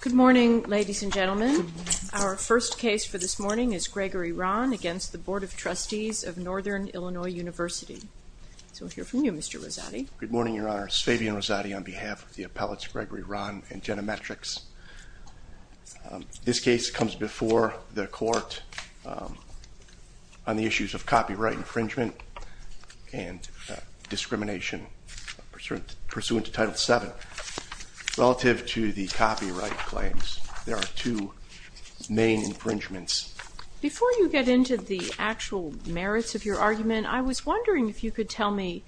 Good morning, ladies and gentlemen. Our first case for this morning is Gregory Rahn v. Board of Trustees of Northern Illinois University. So we'll hear from you, Mr. Rosati. Good morning, Your Honor. It's Fabian Rosati on behalf of the appellates Gregory Rahn and Jenna Metrix. This case comes before the court on the issues of copyright infringement and discrimination pursuant to Title VII. Relative to the copyright claims, there are two main infringements. Before you get into the actual merits of your argument, I was wondering if you could tell me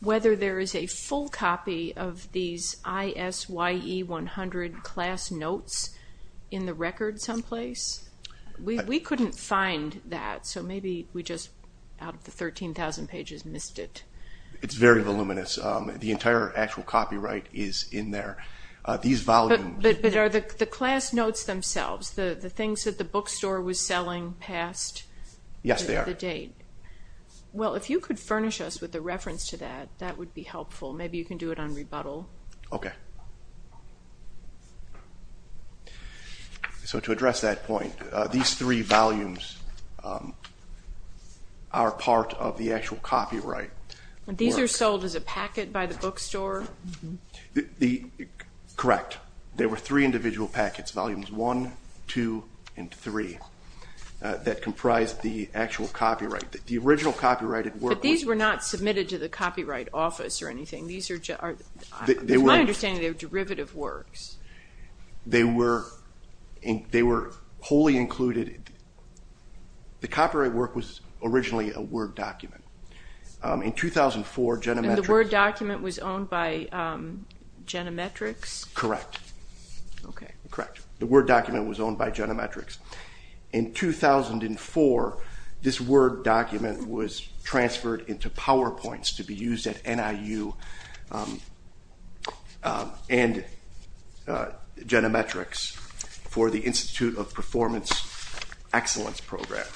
whether there is a full copy of these ISYE 100 class notes in the record someplace. We couldn't find that, so maybe we just out of the 13,000 pages missed it. It's very voluminous. The entire actual copyright is in there. But are the class notes themselves, the things that the bookstore was selling past the date? Yes, they are. Well, if you could furnish us with a reference to that, that would be helpful. Maybe you can do it on rebuttal. Okay. So to address that point, these three volumes are part of the actual copyright. These are sold as a packet by the bookstore? Correct. There were three individual packets, volumes one, two, and three that comprised the actual copyright. The original copyrighted work was But these were not submitted to the Copyright Office or anything? From my understanding, they were derivative works. They were wholly included. The copyright work was originally a Word document. In 2004, Genometrics And the Word document was owned by Genometrics? Correct. The Word document was owned by Genometrics. In 2004, this Word document was transferred into PowerPoints to be used at NIU and Genometrics for the Institute of Performance Excellence Program.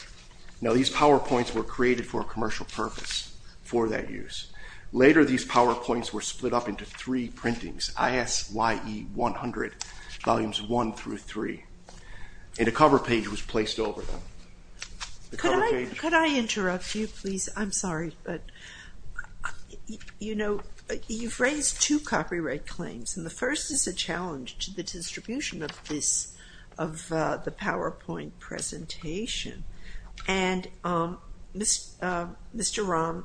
Now these PowerPoints were created for a commercial purpose, for that use. Later, these PowerPoints were split up into three printings, ISYE 100, volumes one through three. And a cover page was placed over them. Could I interrupt you, please? I'm sorry, but you've raised two copyright claims. And the first is a challenge to the distribution of the PowerPoint presentation. And Mr. Rahm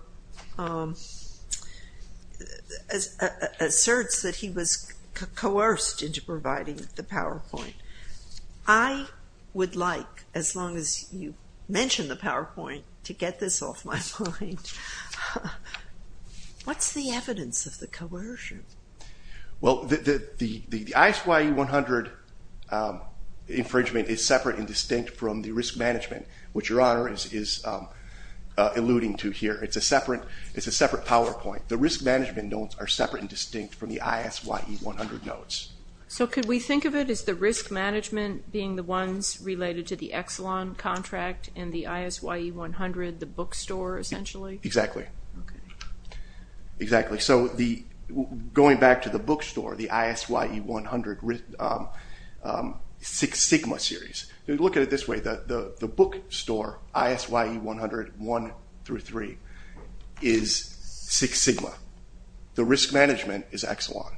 asserts that he was coerced into providing the PowerPoint. I would like, as long as you mention the PowerPoint, to get this off my mind. What's the evidence of the coercion? Well, the ISYE 100 infringement is separate and distinct from the risk management, which Your Honor is alluding to here. It's a separate PowerPoint. The risk management notes are separate and distinct from the ISYE 100 notes. So could we think of it as the risk management being the ones related to the Exelon contract and the ISYE 100, the bookstore, essentially? Exactly. So going back to the bookstore, the ISYE 100 Six Sigma series. If you look at it this way, the bookstore ISYE 100 one through three is Six Sigma. The risk management is Exelon.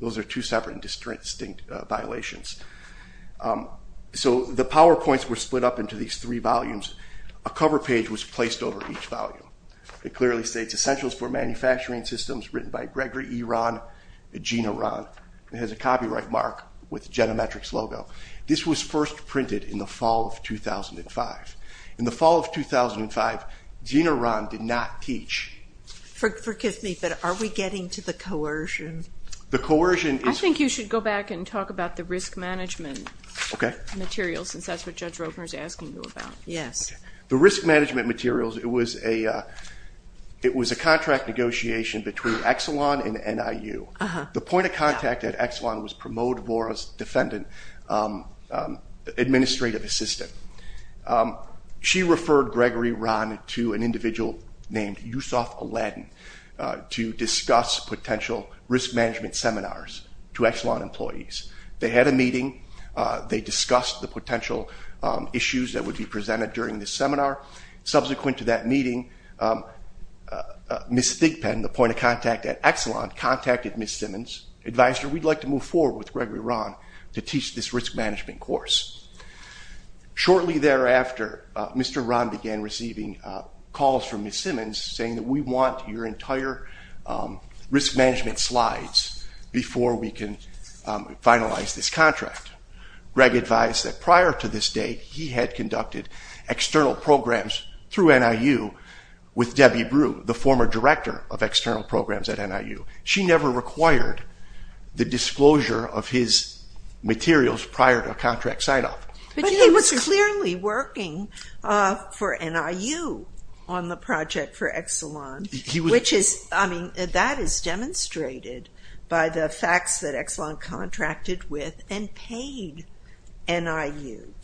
Those are two separate and distinct violations. So the PowerPoints were split up into these three volumes. A cover page was placed over each volume. It clearly states, Essentials for Manufacturing Systems, written by Gregory E. Rahn, Gina Rahn. It has a copyright mark with Genometrics logo. This was first printed in the fall of 2005. In the fall of 2005, Gina Rahn did not teach. Forgive me, but are we getting to the coercion? I think you should go back and talk about the risk management materials, since that's what Judge Roper is asking you about. The risk management materials, it was a contract negotiation between Exelon and NIU. The point of contact at Exelon was Promote Vora's Defendant Administrative Assistant. She referred Gregory Rahn to an individual named Yusoff Alladin to discuss potential risk management seminars to Exelon employees. They had a meeting. They discussed the potential issues that would be presented during this seminar. Subsequent to that meeting, Ms. Thigpen, the point of contact at Exelon, contacted Ms. Simmons, advised her, we'd like to move forward with Gregory Rahn to teach this risk management course. Shortly thereafter, Mr. Rahn began receiving calls from Ms. Simmons saying that we want your entire risk management slides before we can finalize this contract. Greg advised that prior to this date, he had conducted external programs through NIU with Debbie Brew, the former director of external programs at NIU. She never required the disclosure of his materials prior to a contract sign-off. He was clearly working for NIU on the project for Exelon, which is demonstrated by the facts that Exelon contracted with and paid NIU.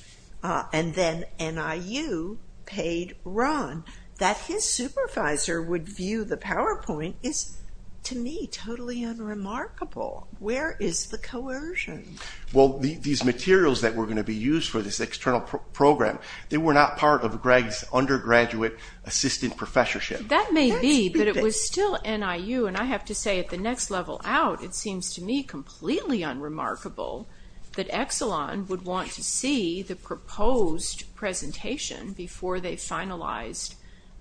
And then NIU paid Rahn. That his supervisor would view the PowerPoint is, to me, totally unremarkable. Where is the coercion? Well, these materials that were going to be used for this external program, they were not part of Greg's undergraduate assistant professorship. That may be, but it was still NIU. And I have to say, at the next level out, it seems to me completely unremarkable that Exelon would want to see the proposed presentation before they finalized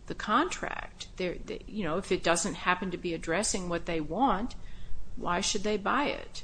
the contract. If it doesn't happen to be addressing what they want, why should they buy it?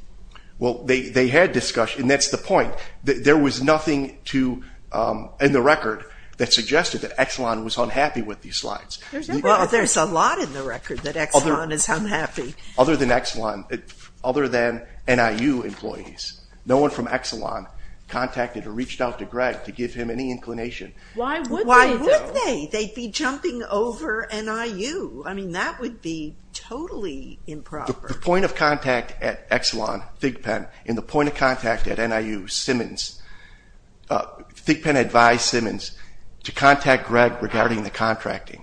Well, they had discussion, and that's the point. There was nothing in the record that suggested that Exelon was unhappy with these slides. Well, there's a lot in the record that Exelon is unhappy. Other than Exelon, other than NIU employees, no one from Exelon contacted or reached out to Greg to give him any inclination. Why would they, though? Why would they? They'd be jumping over NIU. I mean, that would be totally improper. The point of contact at Exelon, Thigpen, and the point of contact at NIU, Thigpen advised Simmons to contact Greg regarding the contracting.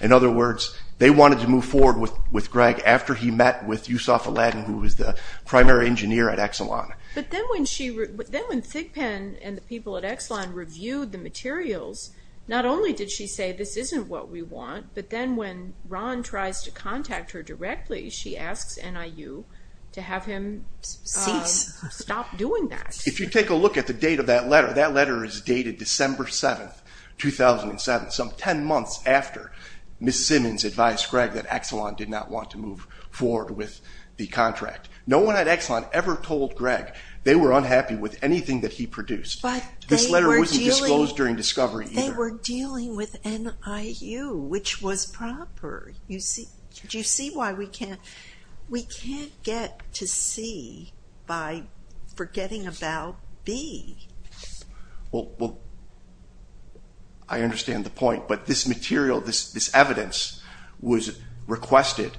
In other words, they wanted to move forward with Greg after he met with Yusoff Alladin, who was the primary engineer at Exelon. But then when Thigpen and the people at Exelon reviewed the materials, not only did she say, this isn't what we want, but then when Ron tries to contact her directly, she asks NIU to have him stop doing that. If you take a look at the date of that letter, that letter is dated December 7th, 2007, some 10 months after Ms. Simmons advised Greg that Exelon did not want to move forward with the contract. No one at Exelon ever told Greg they were unhappy with anything that he produced. This letter wasn't disclosed during discovery either. But we're dealing with NIU, which was proper. Do you see why we can't get to C by forgetting about B? Well, I understand the point, but this material, this evidence was requested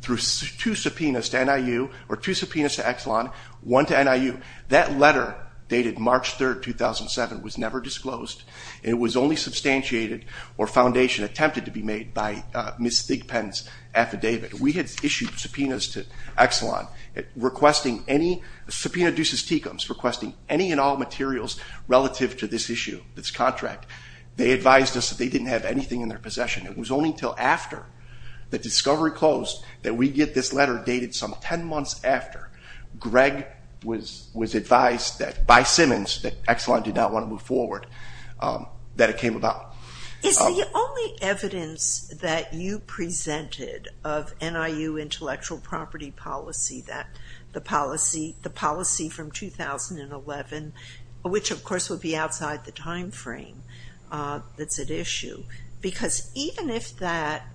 through two subpoenas to Exelon, one to NIU. That letter, dated March 3rd, 2007, was never disclosed. It was only substantiated or foundation attempted to be made by Ms. Thigpen's affidavit. We had issued subpoenas to Exelon, requesting any and all materials relative to this issue, this contract. They advised us that they didn't have anything in their possession. It was only until after the discovery closed that we get this letter dated some 10 months after Greg was advised by Simmons that Exelon did not want to move forward, that it came about. Is the only evidence that you presented of NIU intellectual property policy, the policy from 2011, which of course would be outside the time frame that's at issue, because even if that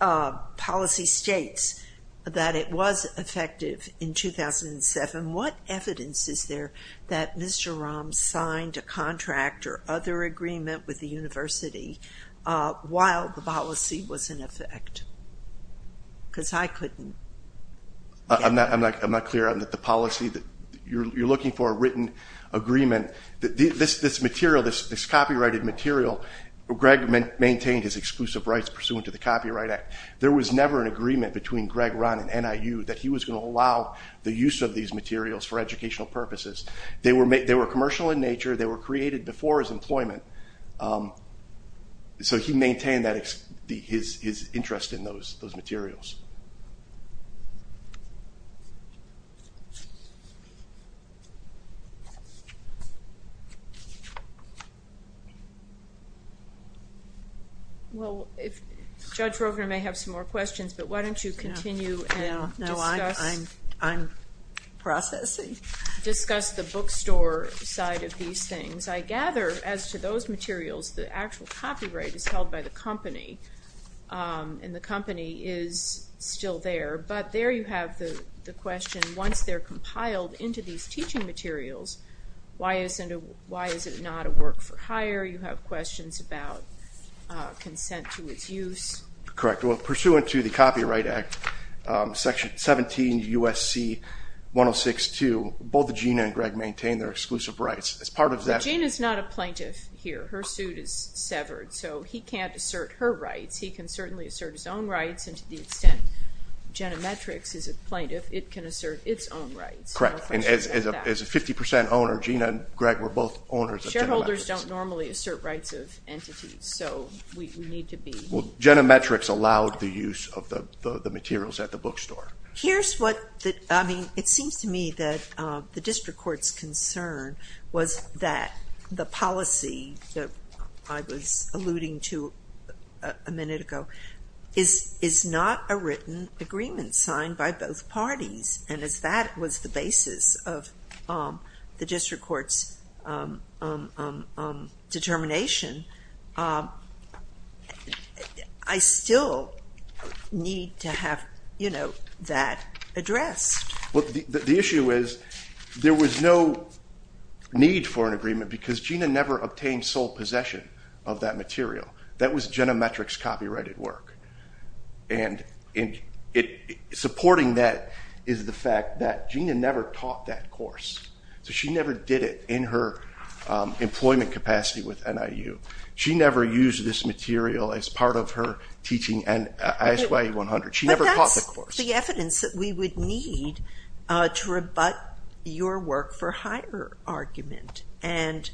policy states that it was effective in 2007, what evidence is there that Mr. Rahm signed a contract or other agreement with the university while the policy was in effect? Because I couldn't. I'm not clear on the policy. You're looking for a written agreement. This copyrighted material, Greg maintained his exclusive rights pursuant to the Copyright Act. There was never an agreement between Greg Rahm and NIU that he was going to allow the use of these materials for educational purposes. They were commercial in nature. They were created before his employment, so he maintained his interest in those materials. Well, Judge Rogner may have some more questions, but why don't you continue and discuss. No, I'm processing. Discuss the bookstore side of these things. I gather as to those materials, the actual copyright is held by the company, and the company is still there, but there you have the question, once they're compiled into these teaching materials, why is it not a work for hire? You have questions about consent to its use. Correct. Well, pursuant to the Copyright Act, Section 17 U.S.C. 106.2, both Gina and Greg maintain their exclusive rights. Gina is not a plaintiff here. Her suit is severed, so he can't assert her rights. He can certainly assert his own rights, and to the extent Jenna Metrix is a plaintiff, it can assert its own rights. Correct. And as a 50% owner, Gina and Greg were both owners of Jenna Metrix. Shareholders don't normally assert rights of entities, so we need to be. Well, Jenna Metrix allowed the use of the materials at the bookstore. Here's what, I mean, it seems to me that the district court's concern was that the policy that I was alluding to a minute ago is not a written agreement signed by both parties, and as that was the basis of the district court's determination, I still need to have that addressed. Well, the issue is there was no need for an agreement because Gina never obtained sole possession of that material. That was Jenna Metrix's copyrighted work, and supporting that is the fact that Gina never taught that course, so she never did it in her employment capacity with NIU. She never used this material as part of her teaching at ISYA 100. She never taught the course. But that's the evidence that we would need to rebut your work for hire argument, and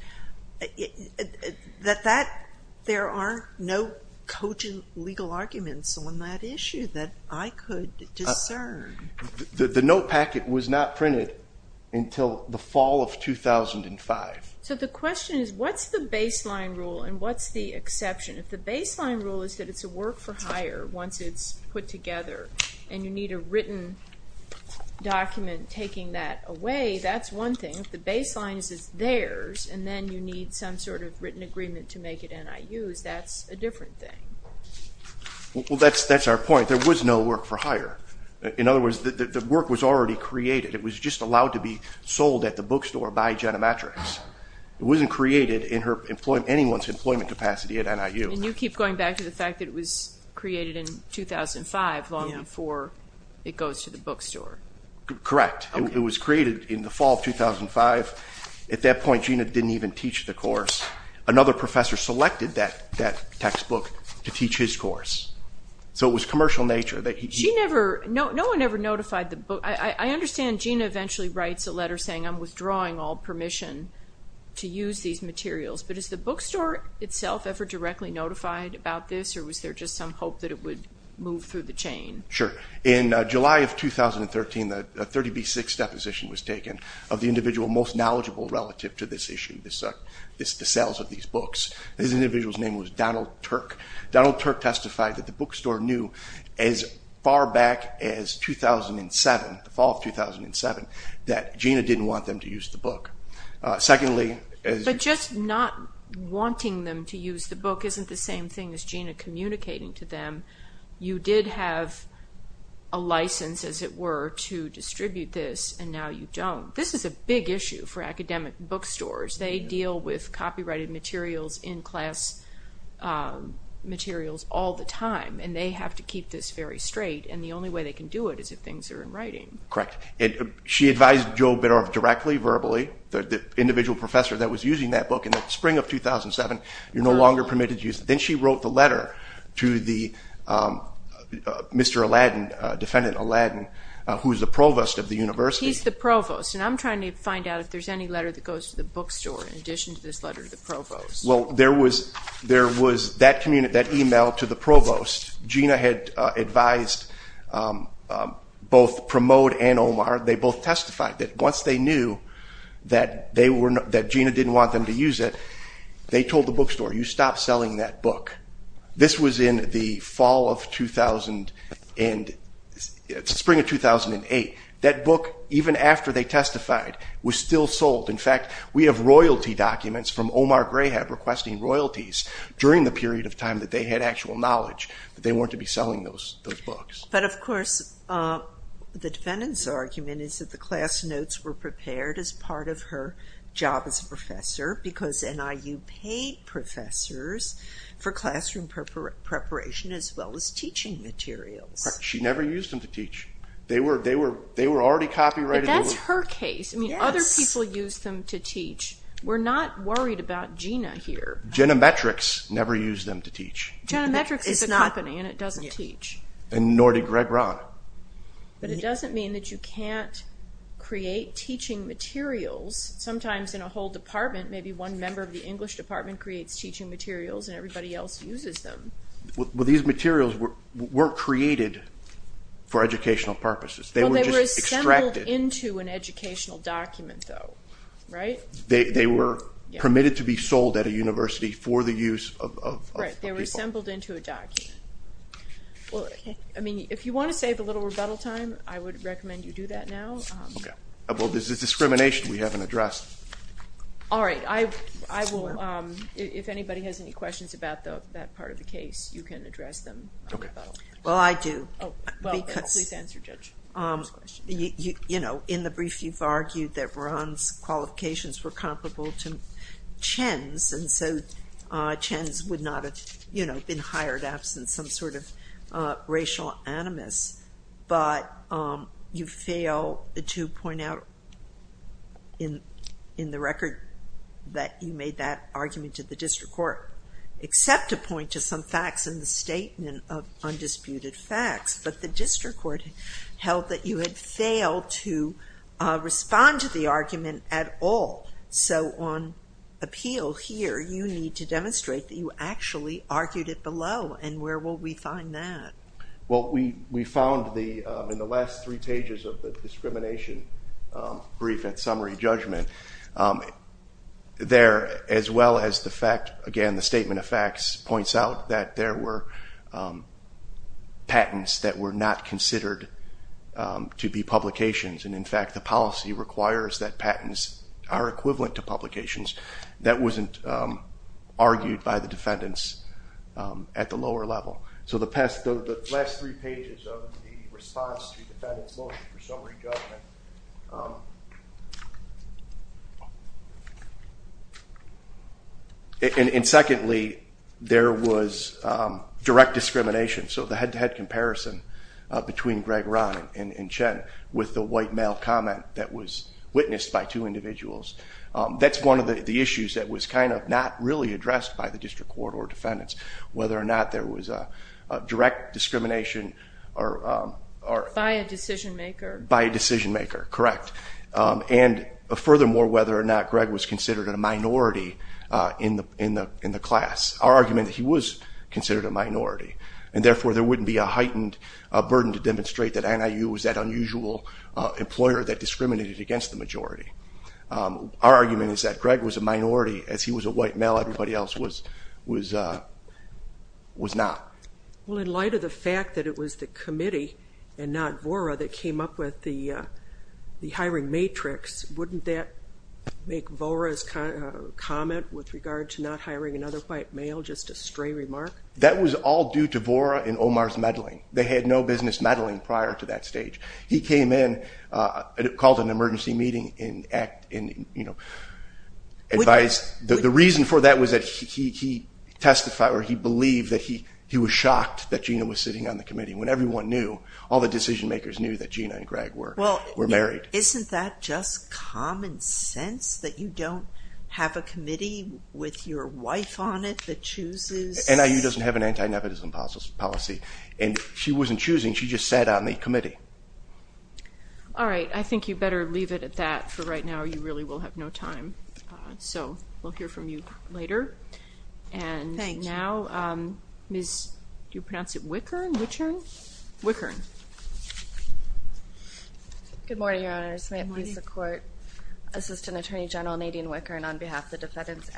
there are no cogent legal arguments on that issue that I could discern. The note packet was not printed until the fall of 2005. So the question is what's the baseline rule and what's the exception? If the baseline rule is that it's a work for hire once it's put together and you need a written document taking that away, that's one thing. If the baseline is it's theirs and then you need some sort of written agreement to make it NIU's, that's a different thing. Well, that's our point. There was no work for hire. In other words, the work was already created. It was just allowed to be sold at the bookstore by Jenna Metrix. It wasn't created in anyone's employment capacity at NIU. And you keep going back to the fact that it was created in 2005, long before it goes to the bookstore. Correct. It was created in the fall of 2005. At that point, Gina didn't even teach the course. Another professor selected that textbook to teach his course. So it was commercial in nature. No one ever notified the book. I understand Gina eventually writes a letter saying, I'm withdrawing all permission to use these materials. But is the bookstore itself ever directly notified about this, or was there just some hope that it would move through the chain? Sure. In July of 2013, a 30B6 deposition was taken of the individual most knowledgeable relative to this issue, the sales of these books. This individual's name was Donald Turk. Donald Turk testified that the bookstore knew as far back as 2007, the fall of 2007, that Gina didn't want them to use the book. But just not wanting them to use the book isn't the same thing as Gina communicating to them. You did have a license, as it were, to distribute this, and now you don't. This is a big issue for academic bookstores. They deal with copyrighted materials, in-class materials all the time, and they have to keep this very straight, and the only way they can do it is if things are in writing. Correct. She advised Joe Beddorf directly, verbally, the individual professor that was using that book, in the spring of 2007, you're no longer permitted to use it. Then she wrote the letter to Mr. Alladin, defendant Alladin, who is the provost of the university. He's the provost, and I'm trying to find out if there's any letter that goes to the bookstore in addition to this letter to the provost. Well, there was that e-mail to the provost. Gina had advised both Promote and Omar. They both testified that once they knew that Gina didn't want them to use it, they told the bookstore, you stop selling that book. This was in the fall of 2000 and spring of 2008. That book, even after they testified, was still sold. In fact, we have royalty documents from Omar Greyhead requesting royalties during the period of time that they had actual knowledge that they weren't to be selling those books. But, of course, the defendant's argument is that the class notes were prepared as part of her job as a professor because NIU paid professors for classroom preparation as well as teaching materials. She never used them to teach. They were already copyrighted. But that's her case. I mean, other people used them to teach. We're not worried about Gina here. Genometrics never used them to teach. Genometrics is a company, and it doesn't teach. Nor did Greg Rahn. But it doesn't mean that you can't create teaching materials. Sometimes in a whole department, maybe one member of the English department creates teaching materials and everybody else uses them. Well, these materials weren't created for educational purposes. They were just extracted. Well, they were assembled into an educational document, though, right? They were permitted to be sold at a university for the use of people. Right, they were assembled into a document. Well, I mean, if you want to save a little rebuttal time, I would recommend you do that now. Well, this is discrimination we haven't addressed. All right. I will, if anybody has any questions about that part of the case, you can address them. Well, I do. Please answer, Judge. You know, in the brief, you've argued that Rahn's qualifications were comparable to Chen's, and so Chen's would not have, you know, been hired absent some sort of racial animus. But you fail to point out in the record that you made that argument to the district court, except to point to some facts in the statement of undisputed facts. But the district court held that you had failed to respond to the argument at all. So on appeal here, you need to demonstrate that you actually argued it below, and where will we find that? Well, we found in the last three pages of the discrimination brief and summary judgment, there, as well as the fact, again, the statement of facts points out that there were patents that were not considered to be publications, and in fact the policy requires that patents are equivalent to publications. That wasn't argued by the defendants at the lower level. So the last three pages of the response to the defendant's motion for summary judgment. And secondly, there was direct discrimination. So the head-to-head comparison between Greg Rahn and Chen with the white male comment that was witnessed by two individuals. That's one of the issues that was kind of not really addressed by the district court or defendants, whether or not there was a direct discrimination. By a decision maker. By a decision maker, correct. And furthermore, whether or not Greg was considered a minority in the class. Our argument that he was considered a minority. And therefore there wouldn't be a heightened burden to demonstrate that NIU was that unusual employer that discriminated against the majority. Our argument is that Greg was a minority. As he was a white male, everybody else was not. Well, in light of the fact that it was the committee and not Vora that came up with the hiring matrix, wouldn't that make Vora's comment with regard to not hiring another white male just a stray remark? That was all due to Vora and Omar's meddling. They had no business meddling prior to that stage. He came in and called an emergency meeting and advised. The reason for that was that he testified or he believed that he was shocked that Gina was sitting on the committee when everyone knew, all the decision makers knew that Gina and Greg were married. Isn't that just common sense that you don't have a committee with your wife on it that chooses? NIU doesn't have an anti-nepotism policy. And she wasn't choosing. She just sat on the committee. All right. I think you better leave it at that for right now or you really will have no time. So we'll hear from you later. And now Ms., do you pronounce it Wickern? Wickern. Good morning, Your Honor. I just want to please the court. Assistant Attorney General Nadine Wickern on behalf of the defendants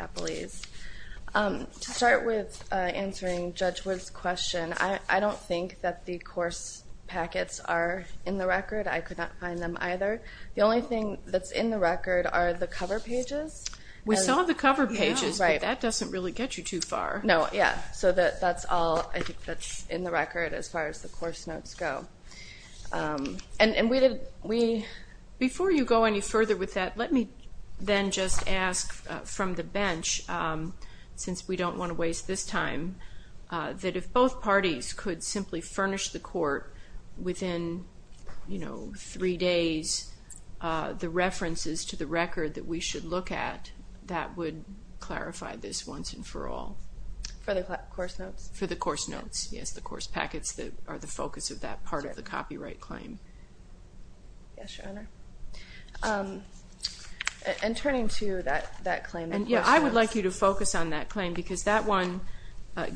To start with answering Judge Wood's question, I don't think that the course packets are in the record. I could not find them either. The only thing that's in the record are the cover pages. We saw the cover pages, but that doesn't really get you too far. No. Yeah. So that's all I think that's in the record as far as the course notes go. And before you go any further with that, let me then just ask from the bench, since we don't want to waste this time, that if both parties could simply furnish the court within, you know, three days, the references to the record that we should look at, that would clarify this once and for all. For the course notes? For the course notes, yes. The course packets that are the focus of that part of the copyright claim. Yes, Your Honor. And turning to that claim. Yeah, I would like you to focus on that claim because that one,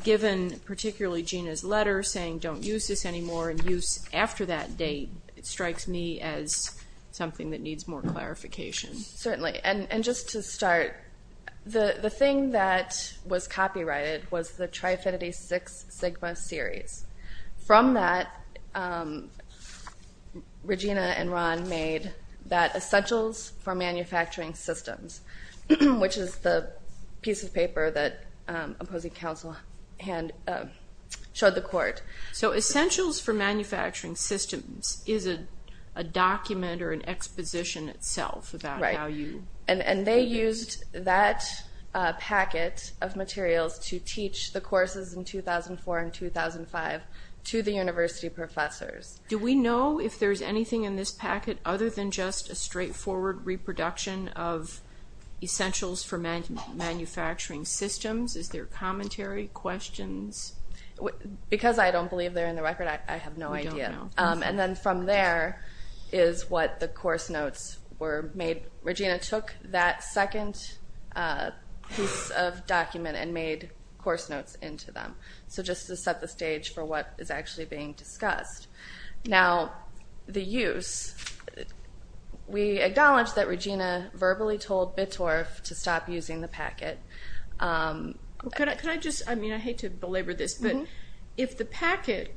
given particularly Gina's letter saying don't use this anymore and use after that date, it strikes me as something that needs more clarification. Certainly. And just to start, the thing that was copyrighted was the Tri-Affinity Six Sigma series. From that, Regina and Ron made that Essentials for Manufacturing Systems, which is the piece of paper that opposing counsel showed the court. So Essentials for Manufacturing Systems is a document or an exposition itself about how you... Right, and they used that packet of materials to teach the courses in 2004 and 2005 to the university professors. Do we know if there's anything in this packet other than just a straightforward reproduction of Essentials for Manufacturing Systems? Is there commentary, questions? Because I don't believe they're in the record, I have no idea. You don't know. And then from there is what the course notes were made. Regina took that second piece of document and made course notes into them, so just to set the stage for what is actually being discussed. Now, the use. We acknowledge that Regina verbally told Bittorf to stop using the packet. Could I just... I mean, I hate to belabor this, but if the packet...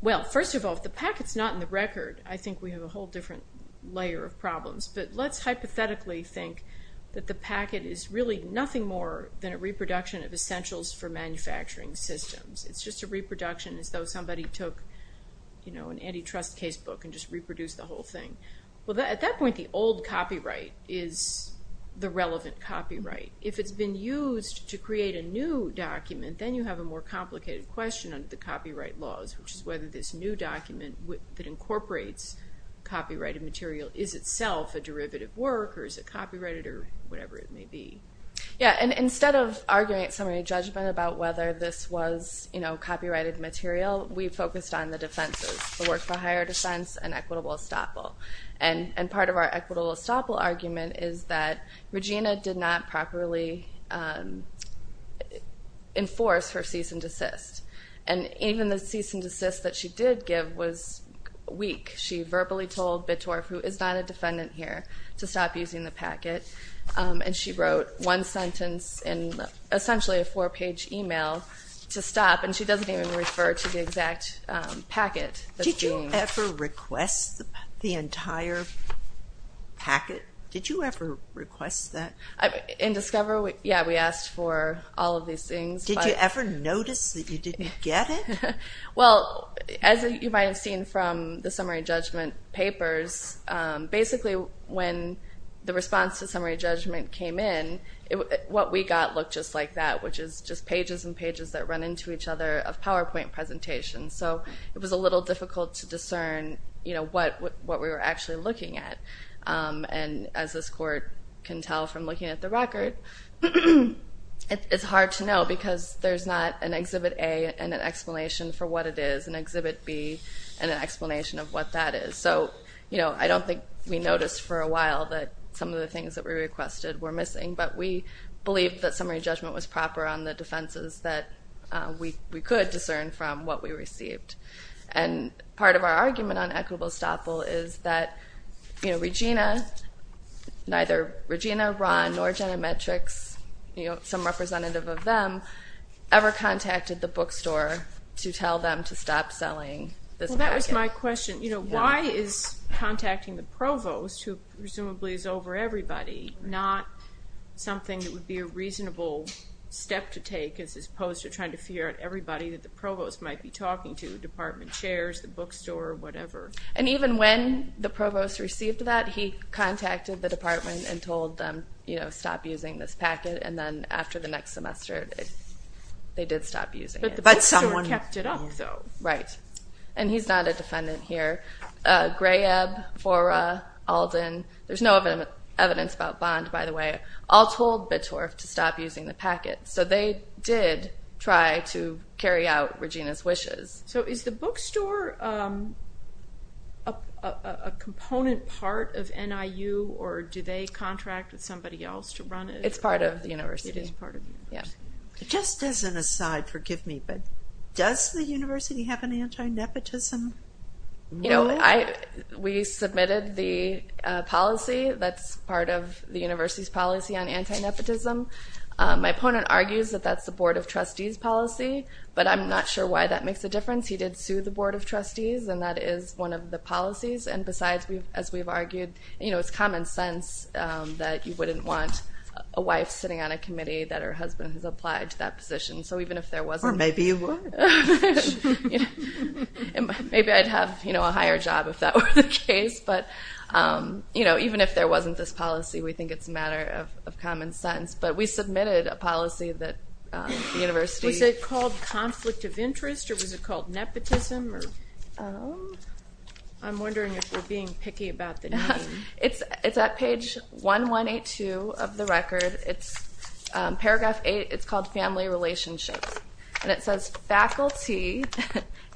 Well, first of all, if the packet's not in the record, I think we have a whole different layer of problems. But let's hypothetically think that the packet is really nothing more than a reproduction of Essentials for Manufacturing Systems. It's just a reproduction as though somebody took, you know, an antitrust casebook and just reproduced the whole thing. Well, at that point, the old copyright is the relevant copyright. If it's been used to create a new document, then you have a more complicated question under the copyright laws, which is whether this new document that incorporates copyrighted material is itself a derivative work or is it copyrighted or whatever it may be. Yeah, and instead of arguing at summary judgment about whether this was, you know, copyrighted material, we focused on the defenses, the work for higher defense and equitable estoppel. And part of our equitable estoppel argument is that Regina did not properly enforce her cease and desist. And even the cease and desist that she did give was weak. She verbally told Bittorf, who is not a defendant here, to stop using the packet, and she wrote one sentence in essentially a four-page email to stop, and she doesn't even refer to the exact packet that's being... Did you ever request the entire packet? Did you ever request that? In Discover, yeah, we asked for all of these things. Did you ever notice that you didn't get it? Well, as you might have seen from the summary judgment papers, basically when the response to summary judgment came in, what we got looked just like that, which is just pages and pages that run into each other of PowerPoint presentations. So it was a little difficult to discern, you know, what we were actually looking at. And as this court can tell from looking at the record, it's hard to know because there's not an Exhibit A and an explanation for what it is, an Exhibit B and an explanation of what that is. So, you know, I don't think we noticed for a while that some of the things that we requested were missing, but we believe that summary judgment was proper on the defenses that we could discern from what we received. Neither Regina, Ron, nor Jenna Metrics, you know, some representative of them, ever contacted the bookstore to tell them to stop selling this packet. Well, that was my question. You know, why is contacting the provost, who presumably is over everybody, not something that would be a reasonable step to take as opposed to trying to figure out everybody that the provost might be talking to, department chairs, the bookstore, whatever? And even when the provost received that, he contacted the department and told them, you know, stop using this packet. And then after the next semester, they did stop using it. But the bookstore kept it up, though. Right. And he's not a defendant here. Grayeb, Fora, Alden, there's no evidence about Bond, by the way, all told Bittorf to stop using the packet. So they did try to carry out Regina's wishes. So is the bookstore a component part of NIU, or do they contract with somebody else to run it? It's part of the university. It is part of the university. Just as an aside, forgive me, but does the university have an anti-nepotism? You know, we submitted the policy that's part of the university's policy on anti-nepotism. My opponent argues that that's the Board of Trustees policy, but I'm not sure why that makes a difference. He did sue the Board of Trustees, and that is one of the policies. And besides, as we've argued, it's common sense that you wouldn't want a wife sitting on a committee that her husband has applied to that position. Or maybe you would. Maybe I'd have a higher job if that were the case. But, you know, even if there wasn't this policy, we think it's a matter of common sense. But we submitted a policy that the university Is it called conflict of interest, or was it called nepotism? I'm wondering if we're being picky about the name. It's at page 1182 of the record. It's paragraph 8. It's called Family Relationships. And it says faculty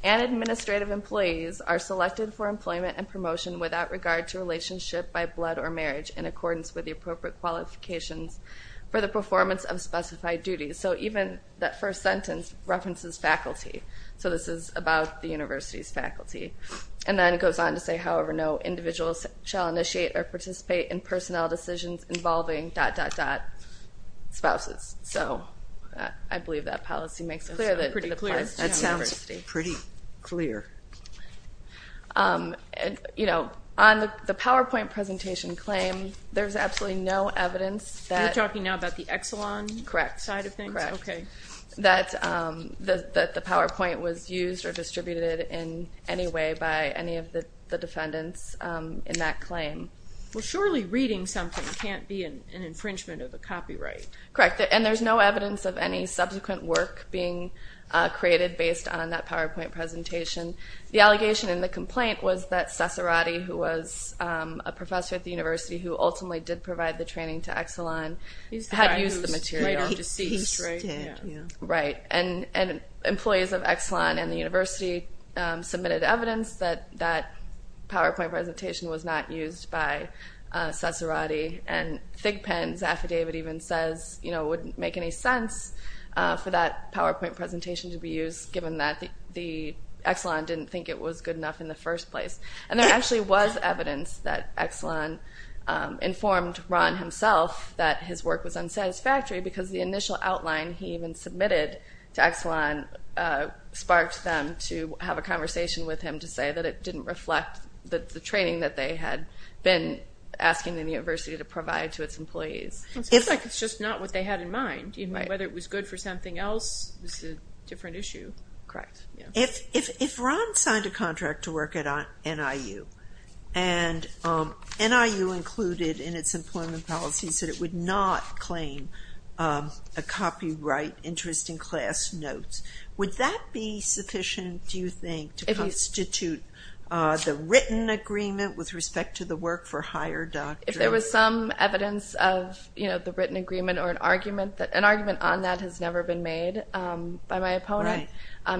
and administrative employees are selected for employment and promotion without regard to relationship by blood or marriage in accordance with the appropriate qualifications for the performance of specified duties. So even that first sentence references faculty. So this is about the university's faculty. And then it goes on to say, however, no individuals shall initiate or participate in personnel decisions involving dot, dot, dot spouses. So I believe that policy makes it clear. That sounds pretty clear. You know, on the PowerPoint presentation claim, there's absolutely no evidence that You're talking now about the Exelon side of things? Correct. That the PowerPoint was used or distributed in any way by any of the defendants in that claim. Surely reading something can't be an infringement of a copyright. Correct. And there's no evidence of any subsequent work being created based on that PowerPoint presentation. The allegation in the complaint was that Ciceratti, who was a professor at the university who ultimately did provide the training to Exelon, had used the material. He did, yeah. Right, and employees of Exelon and the university submitted evidence that that PowerPoint presentation was not used by Ciceratti. And Thigpen's affidavit even says, you know, it wouldn't make any sense for that PowerPoint presentation to be used given that Exelon didn't think it was good enough in the first place. And there actually was evidence that Exelon informed Ron himself that his work was unsatisfactory because the initial outline he even submitted to Exelon sparked them to have a conversation with him to say that it didn't reflect the training that they had been asking the university to provide to its employees. It's just not what they had in mind. Whether it was good for something else is a different issue. If Ron signed a contract to work at NIU and NIU included in its employment policies that it would not claim a copyright interest in class notes, would that be sufficient, do you think, to constitute the written agreement with respect to the work for hire doctrine? If there was some evidence of the written agreement or an argument, an argument on that has never been made by my opponent.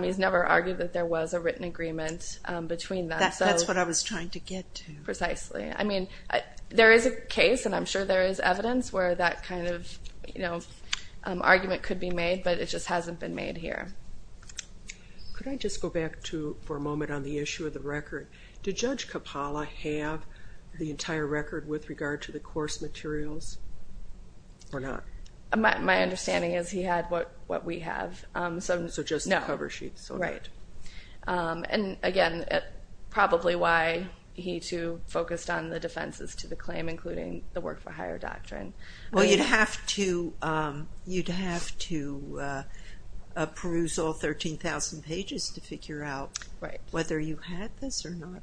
He's never argued that there was a written agreement between them. That's what I was trying to get to. Precisely. I mean, there is a case, and I'm sure there is evidence, where that kind of argument could be made, but it just hasn't been made here. Could I just go back for a moment on the issue of the record? Did Judge Capalla have the entire record with regard to the course materials or not? My understanding is he had what we have. So just the cover sheet. Right. And again, probably why he too focused on the defenses to the claim, including the work for hire doctrine. Well, you'd have to peruse all 13,000 pages to figure out whether you had this or not,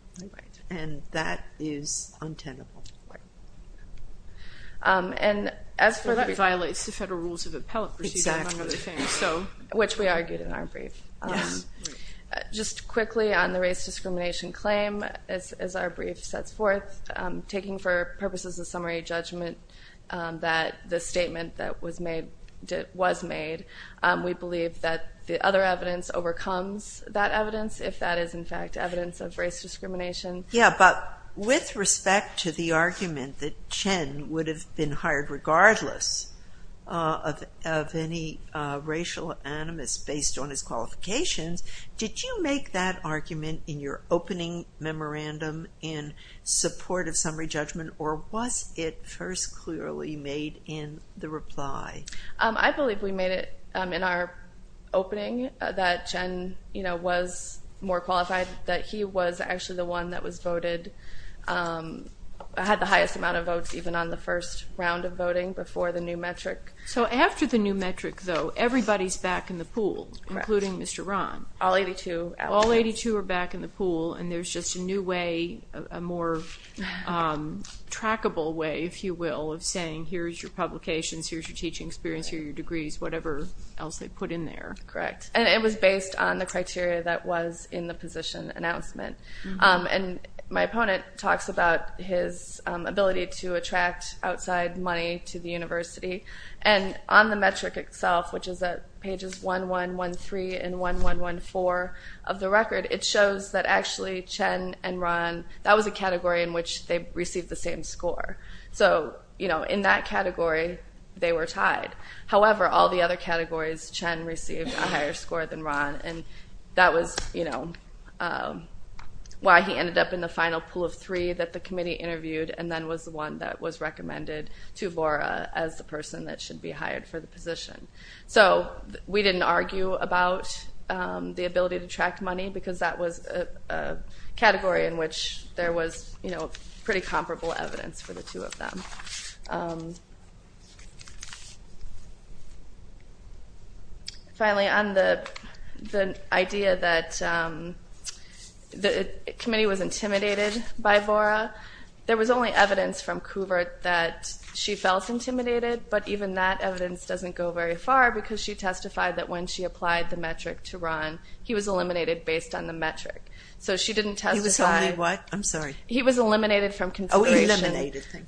and that is untenable. And as for that- It violates the federal rules of appellate procedure, among other things. Exactly. Which we argued in our brief. Just quickly on the race discrimination claim, as our brief sets forth, taking for purposes of summary judgment that the statement that was made, we believe that the other evidence overcomes that evidence, if that is, in fact, evidence of race discrimination. Yeah, but with respect to the argument that Chen would have been hired regardless of any racial animus based on his qualifications, did you make that argument in your opening memorandum in support of summary judgment, or was it first clearly made in the reply? I believe we made it in our opening that Chen was more qualified, that he was actually the one that was voted, had the highest amount of votes even on the first round of voting before the new metric. So after the new metric, though, everybody's back in the pool, including Mr. Ron. All 82. All 82 are back in the pool, and there's just a new way, a more trackable way, if you will, of saying here's your publications, here's your teaching experience, here are your degrees, whatever else they put in there. Correct, and it was based on the criteria that was in the position announcement. And my opponent talks about his ability to attract outside money to the university, and on the metric itself, which is at pages 1113 and 1114 of the record, it shows that actually Chen and Ron, that was a category in which they received the same score. So, you know, in that category, they were tied. However, all the other categories, Chen received a higher score than Ron, and that was, you know, why he ended up in the final pool of three that the committee interviewed and then was the one that was recommended to Vora as the person that should be hired for the position. So we didn't argue about the ability to attract money because that was a category in which there was, you know, pretty comparable evidence for the two of them. Finally, on the idea that the committee was intimidated by Vora, there was only evidence from Kuvert that she felt intimidated, but even that evidence doesn't go very far because she testified that when she applied the metric to Ron, he was eliminated based on the metric. So she didn't testify... He was only what? I'm sorry. He was eliminated from consideration...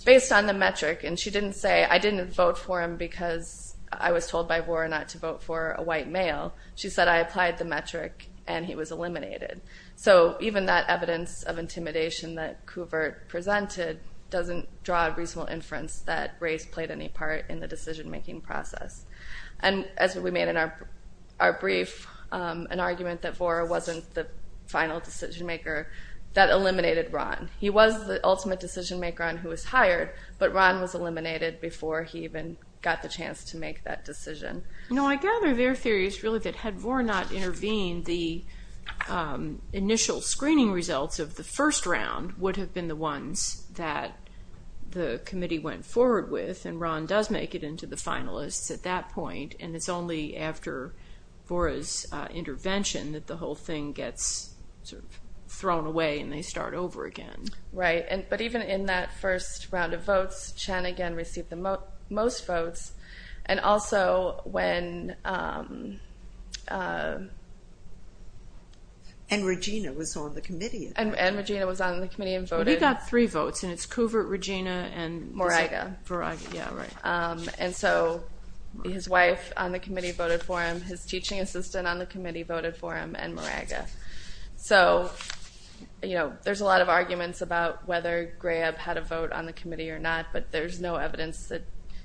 Based on the metric, and she didn't say, I didn't vote for him because I was told by Vora not to vote for a white male. She said, I applied the metric, and he was eliminated. So even that evidence of intimidation that Kuvert presented doesn't draw a reasonable inference that race played any part in the decision-making process. And as we made in our brief, an argument that Vora wasn't the final decision-maker that eliminated Ron. He was the ultimate decision-maker on who was hired, but Ron was eliminated before he even got the chance to make that decision. I gather their theory is really that had Vora not intervened, the initial screening results of the first round would have been the ones that the committee went forward with, and Ron does make it into the finalists at that point, and it's only after Vora's intervention that the whole thing gets thrown away, and they start over again. Right, but even in that first round of votes, Chen again received the most votes, and also when... And Regina was on the committee. And Regina was on the committee and voted. He got three votes, and it's Kuvert, Regina, and... Moraga. Moraga, yeah, right. And so his wife on the committee voted for him, his teaching assistant on the committee voted for him, and Moraga. So, you know, there's a lot of arguments about whether Graeb had a vote on the committee or not, but there's no evidence that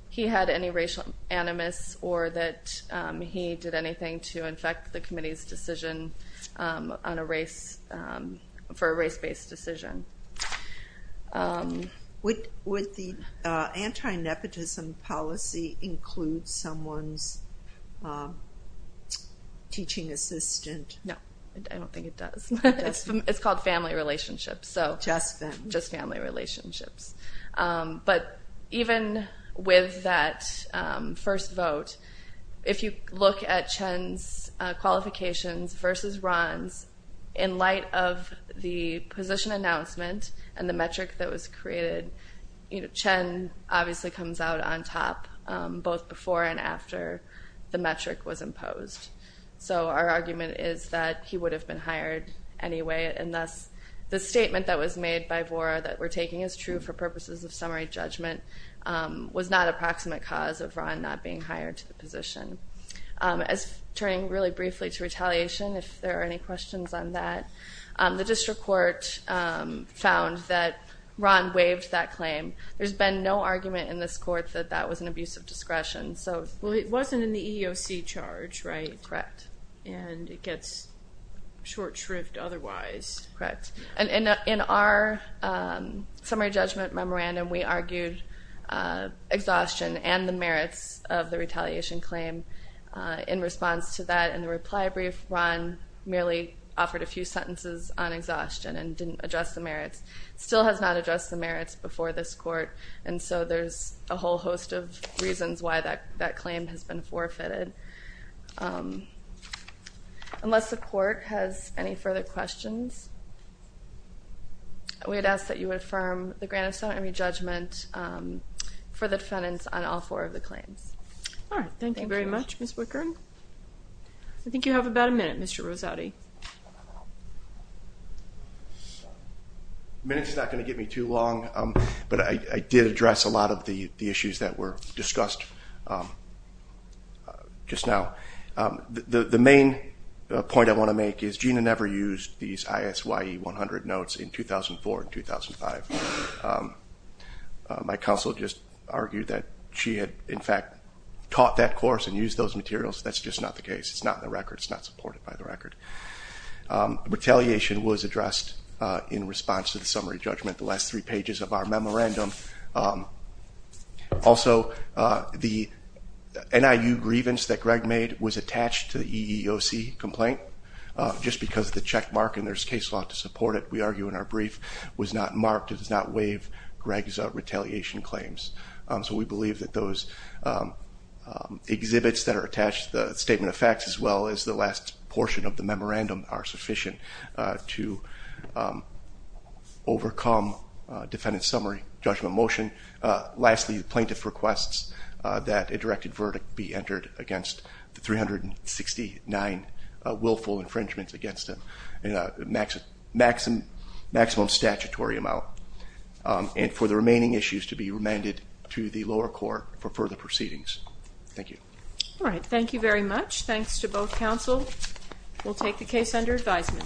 he had any racial animus or that he did anything to infect the committee's decision on a race...for a race-based decision. Would the anti-nepotism policy include someone's teaching assistant? No, I don't think it does. It's called family relationships. Just family. Just family relationships. But even with that first vote, if you look at Chen's qualifications versus Ron's, in light of the position announcement and the metric that was created, Chen obviously comes out on top both before and after the metric was imposed. So our argument is that he would have been hired anyway, and thus the statement that was made by Vora that we're taking as true for purposes of summary judgment was not a proximate cause of Ron not being hired to the position. Turning really briefly to retaliation, if there are any questions on that, the district court found that Ron waived that claim. There's been no argument in this court that that was an abuse of discretion. Well, it wasn't in the EEOC charge, right? Correct. And it gets short shrift otherwise. Correct. In our summary judgment memorandum, we argued exhaustion and the merits of the retaliation claim in response to that. In the reply brief, Ron merely offered a few sentences on exhaustion and didn't address the merits. Still has not addressed the merits before this court, and so there's a whole host of reasons why that claim has been forfeited. Unless the court has any further questions, we'd ask that you affirm the grant of summary judgment for the defendants on all four of the claims. All right. Thank you very much, Ms. Wickern. I think you have about a minute, Mr. Rosati. A minute's not going to get me too long, but I did address a lot of the issues that were discussed just now. The main point I want to make is Gina never used these ISYE 100 notes in 2004 and 2005. My counsel just argued that she had, in fact, taught that course and used those materials. That's just not the case. It's not in the record. It's not supported by the record. Retaliation was addressed in response to the summary judgment. The last three pages of our memorandum. Also, the NIU grievance that Greg made was attached to the EEOC complaint, just because of the checkmark, and there's case law to support it. We argue in our brief it was not marked. It does not waive Greg's retaliation claims. So we believe that those exhibits that are attached to the statement of facts as well as the last portion of the memorandum are sufficient to overcome defendant's summary judgment motion. Lastly, the plaintiff requests that a directed verdict be entered against the 369 willful infringements against them, maximum statutory amount, and for the remaining issues to be remanded to the lower court for further proceedings. Thank you. All right. Thank you very much. Thanks to both counsel. We'll take the case under advisement.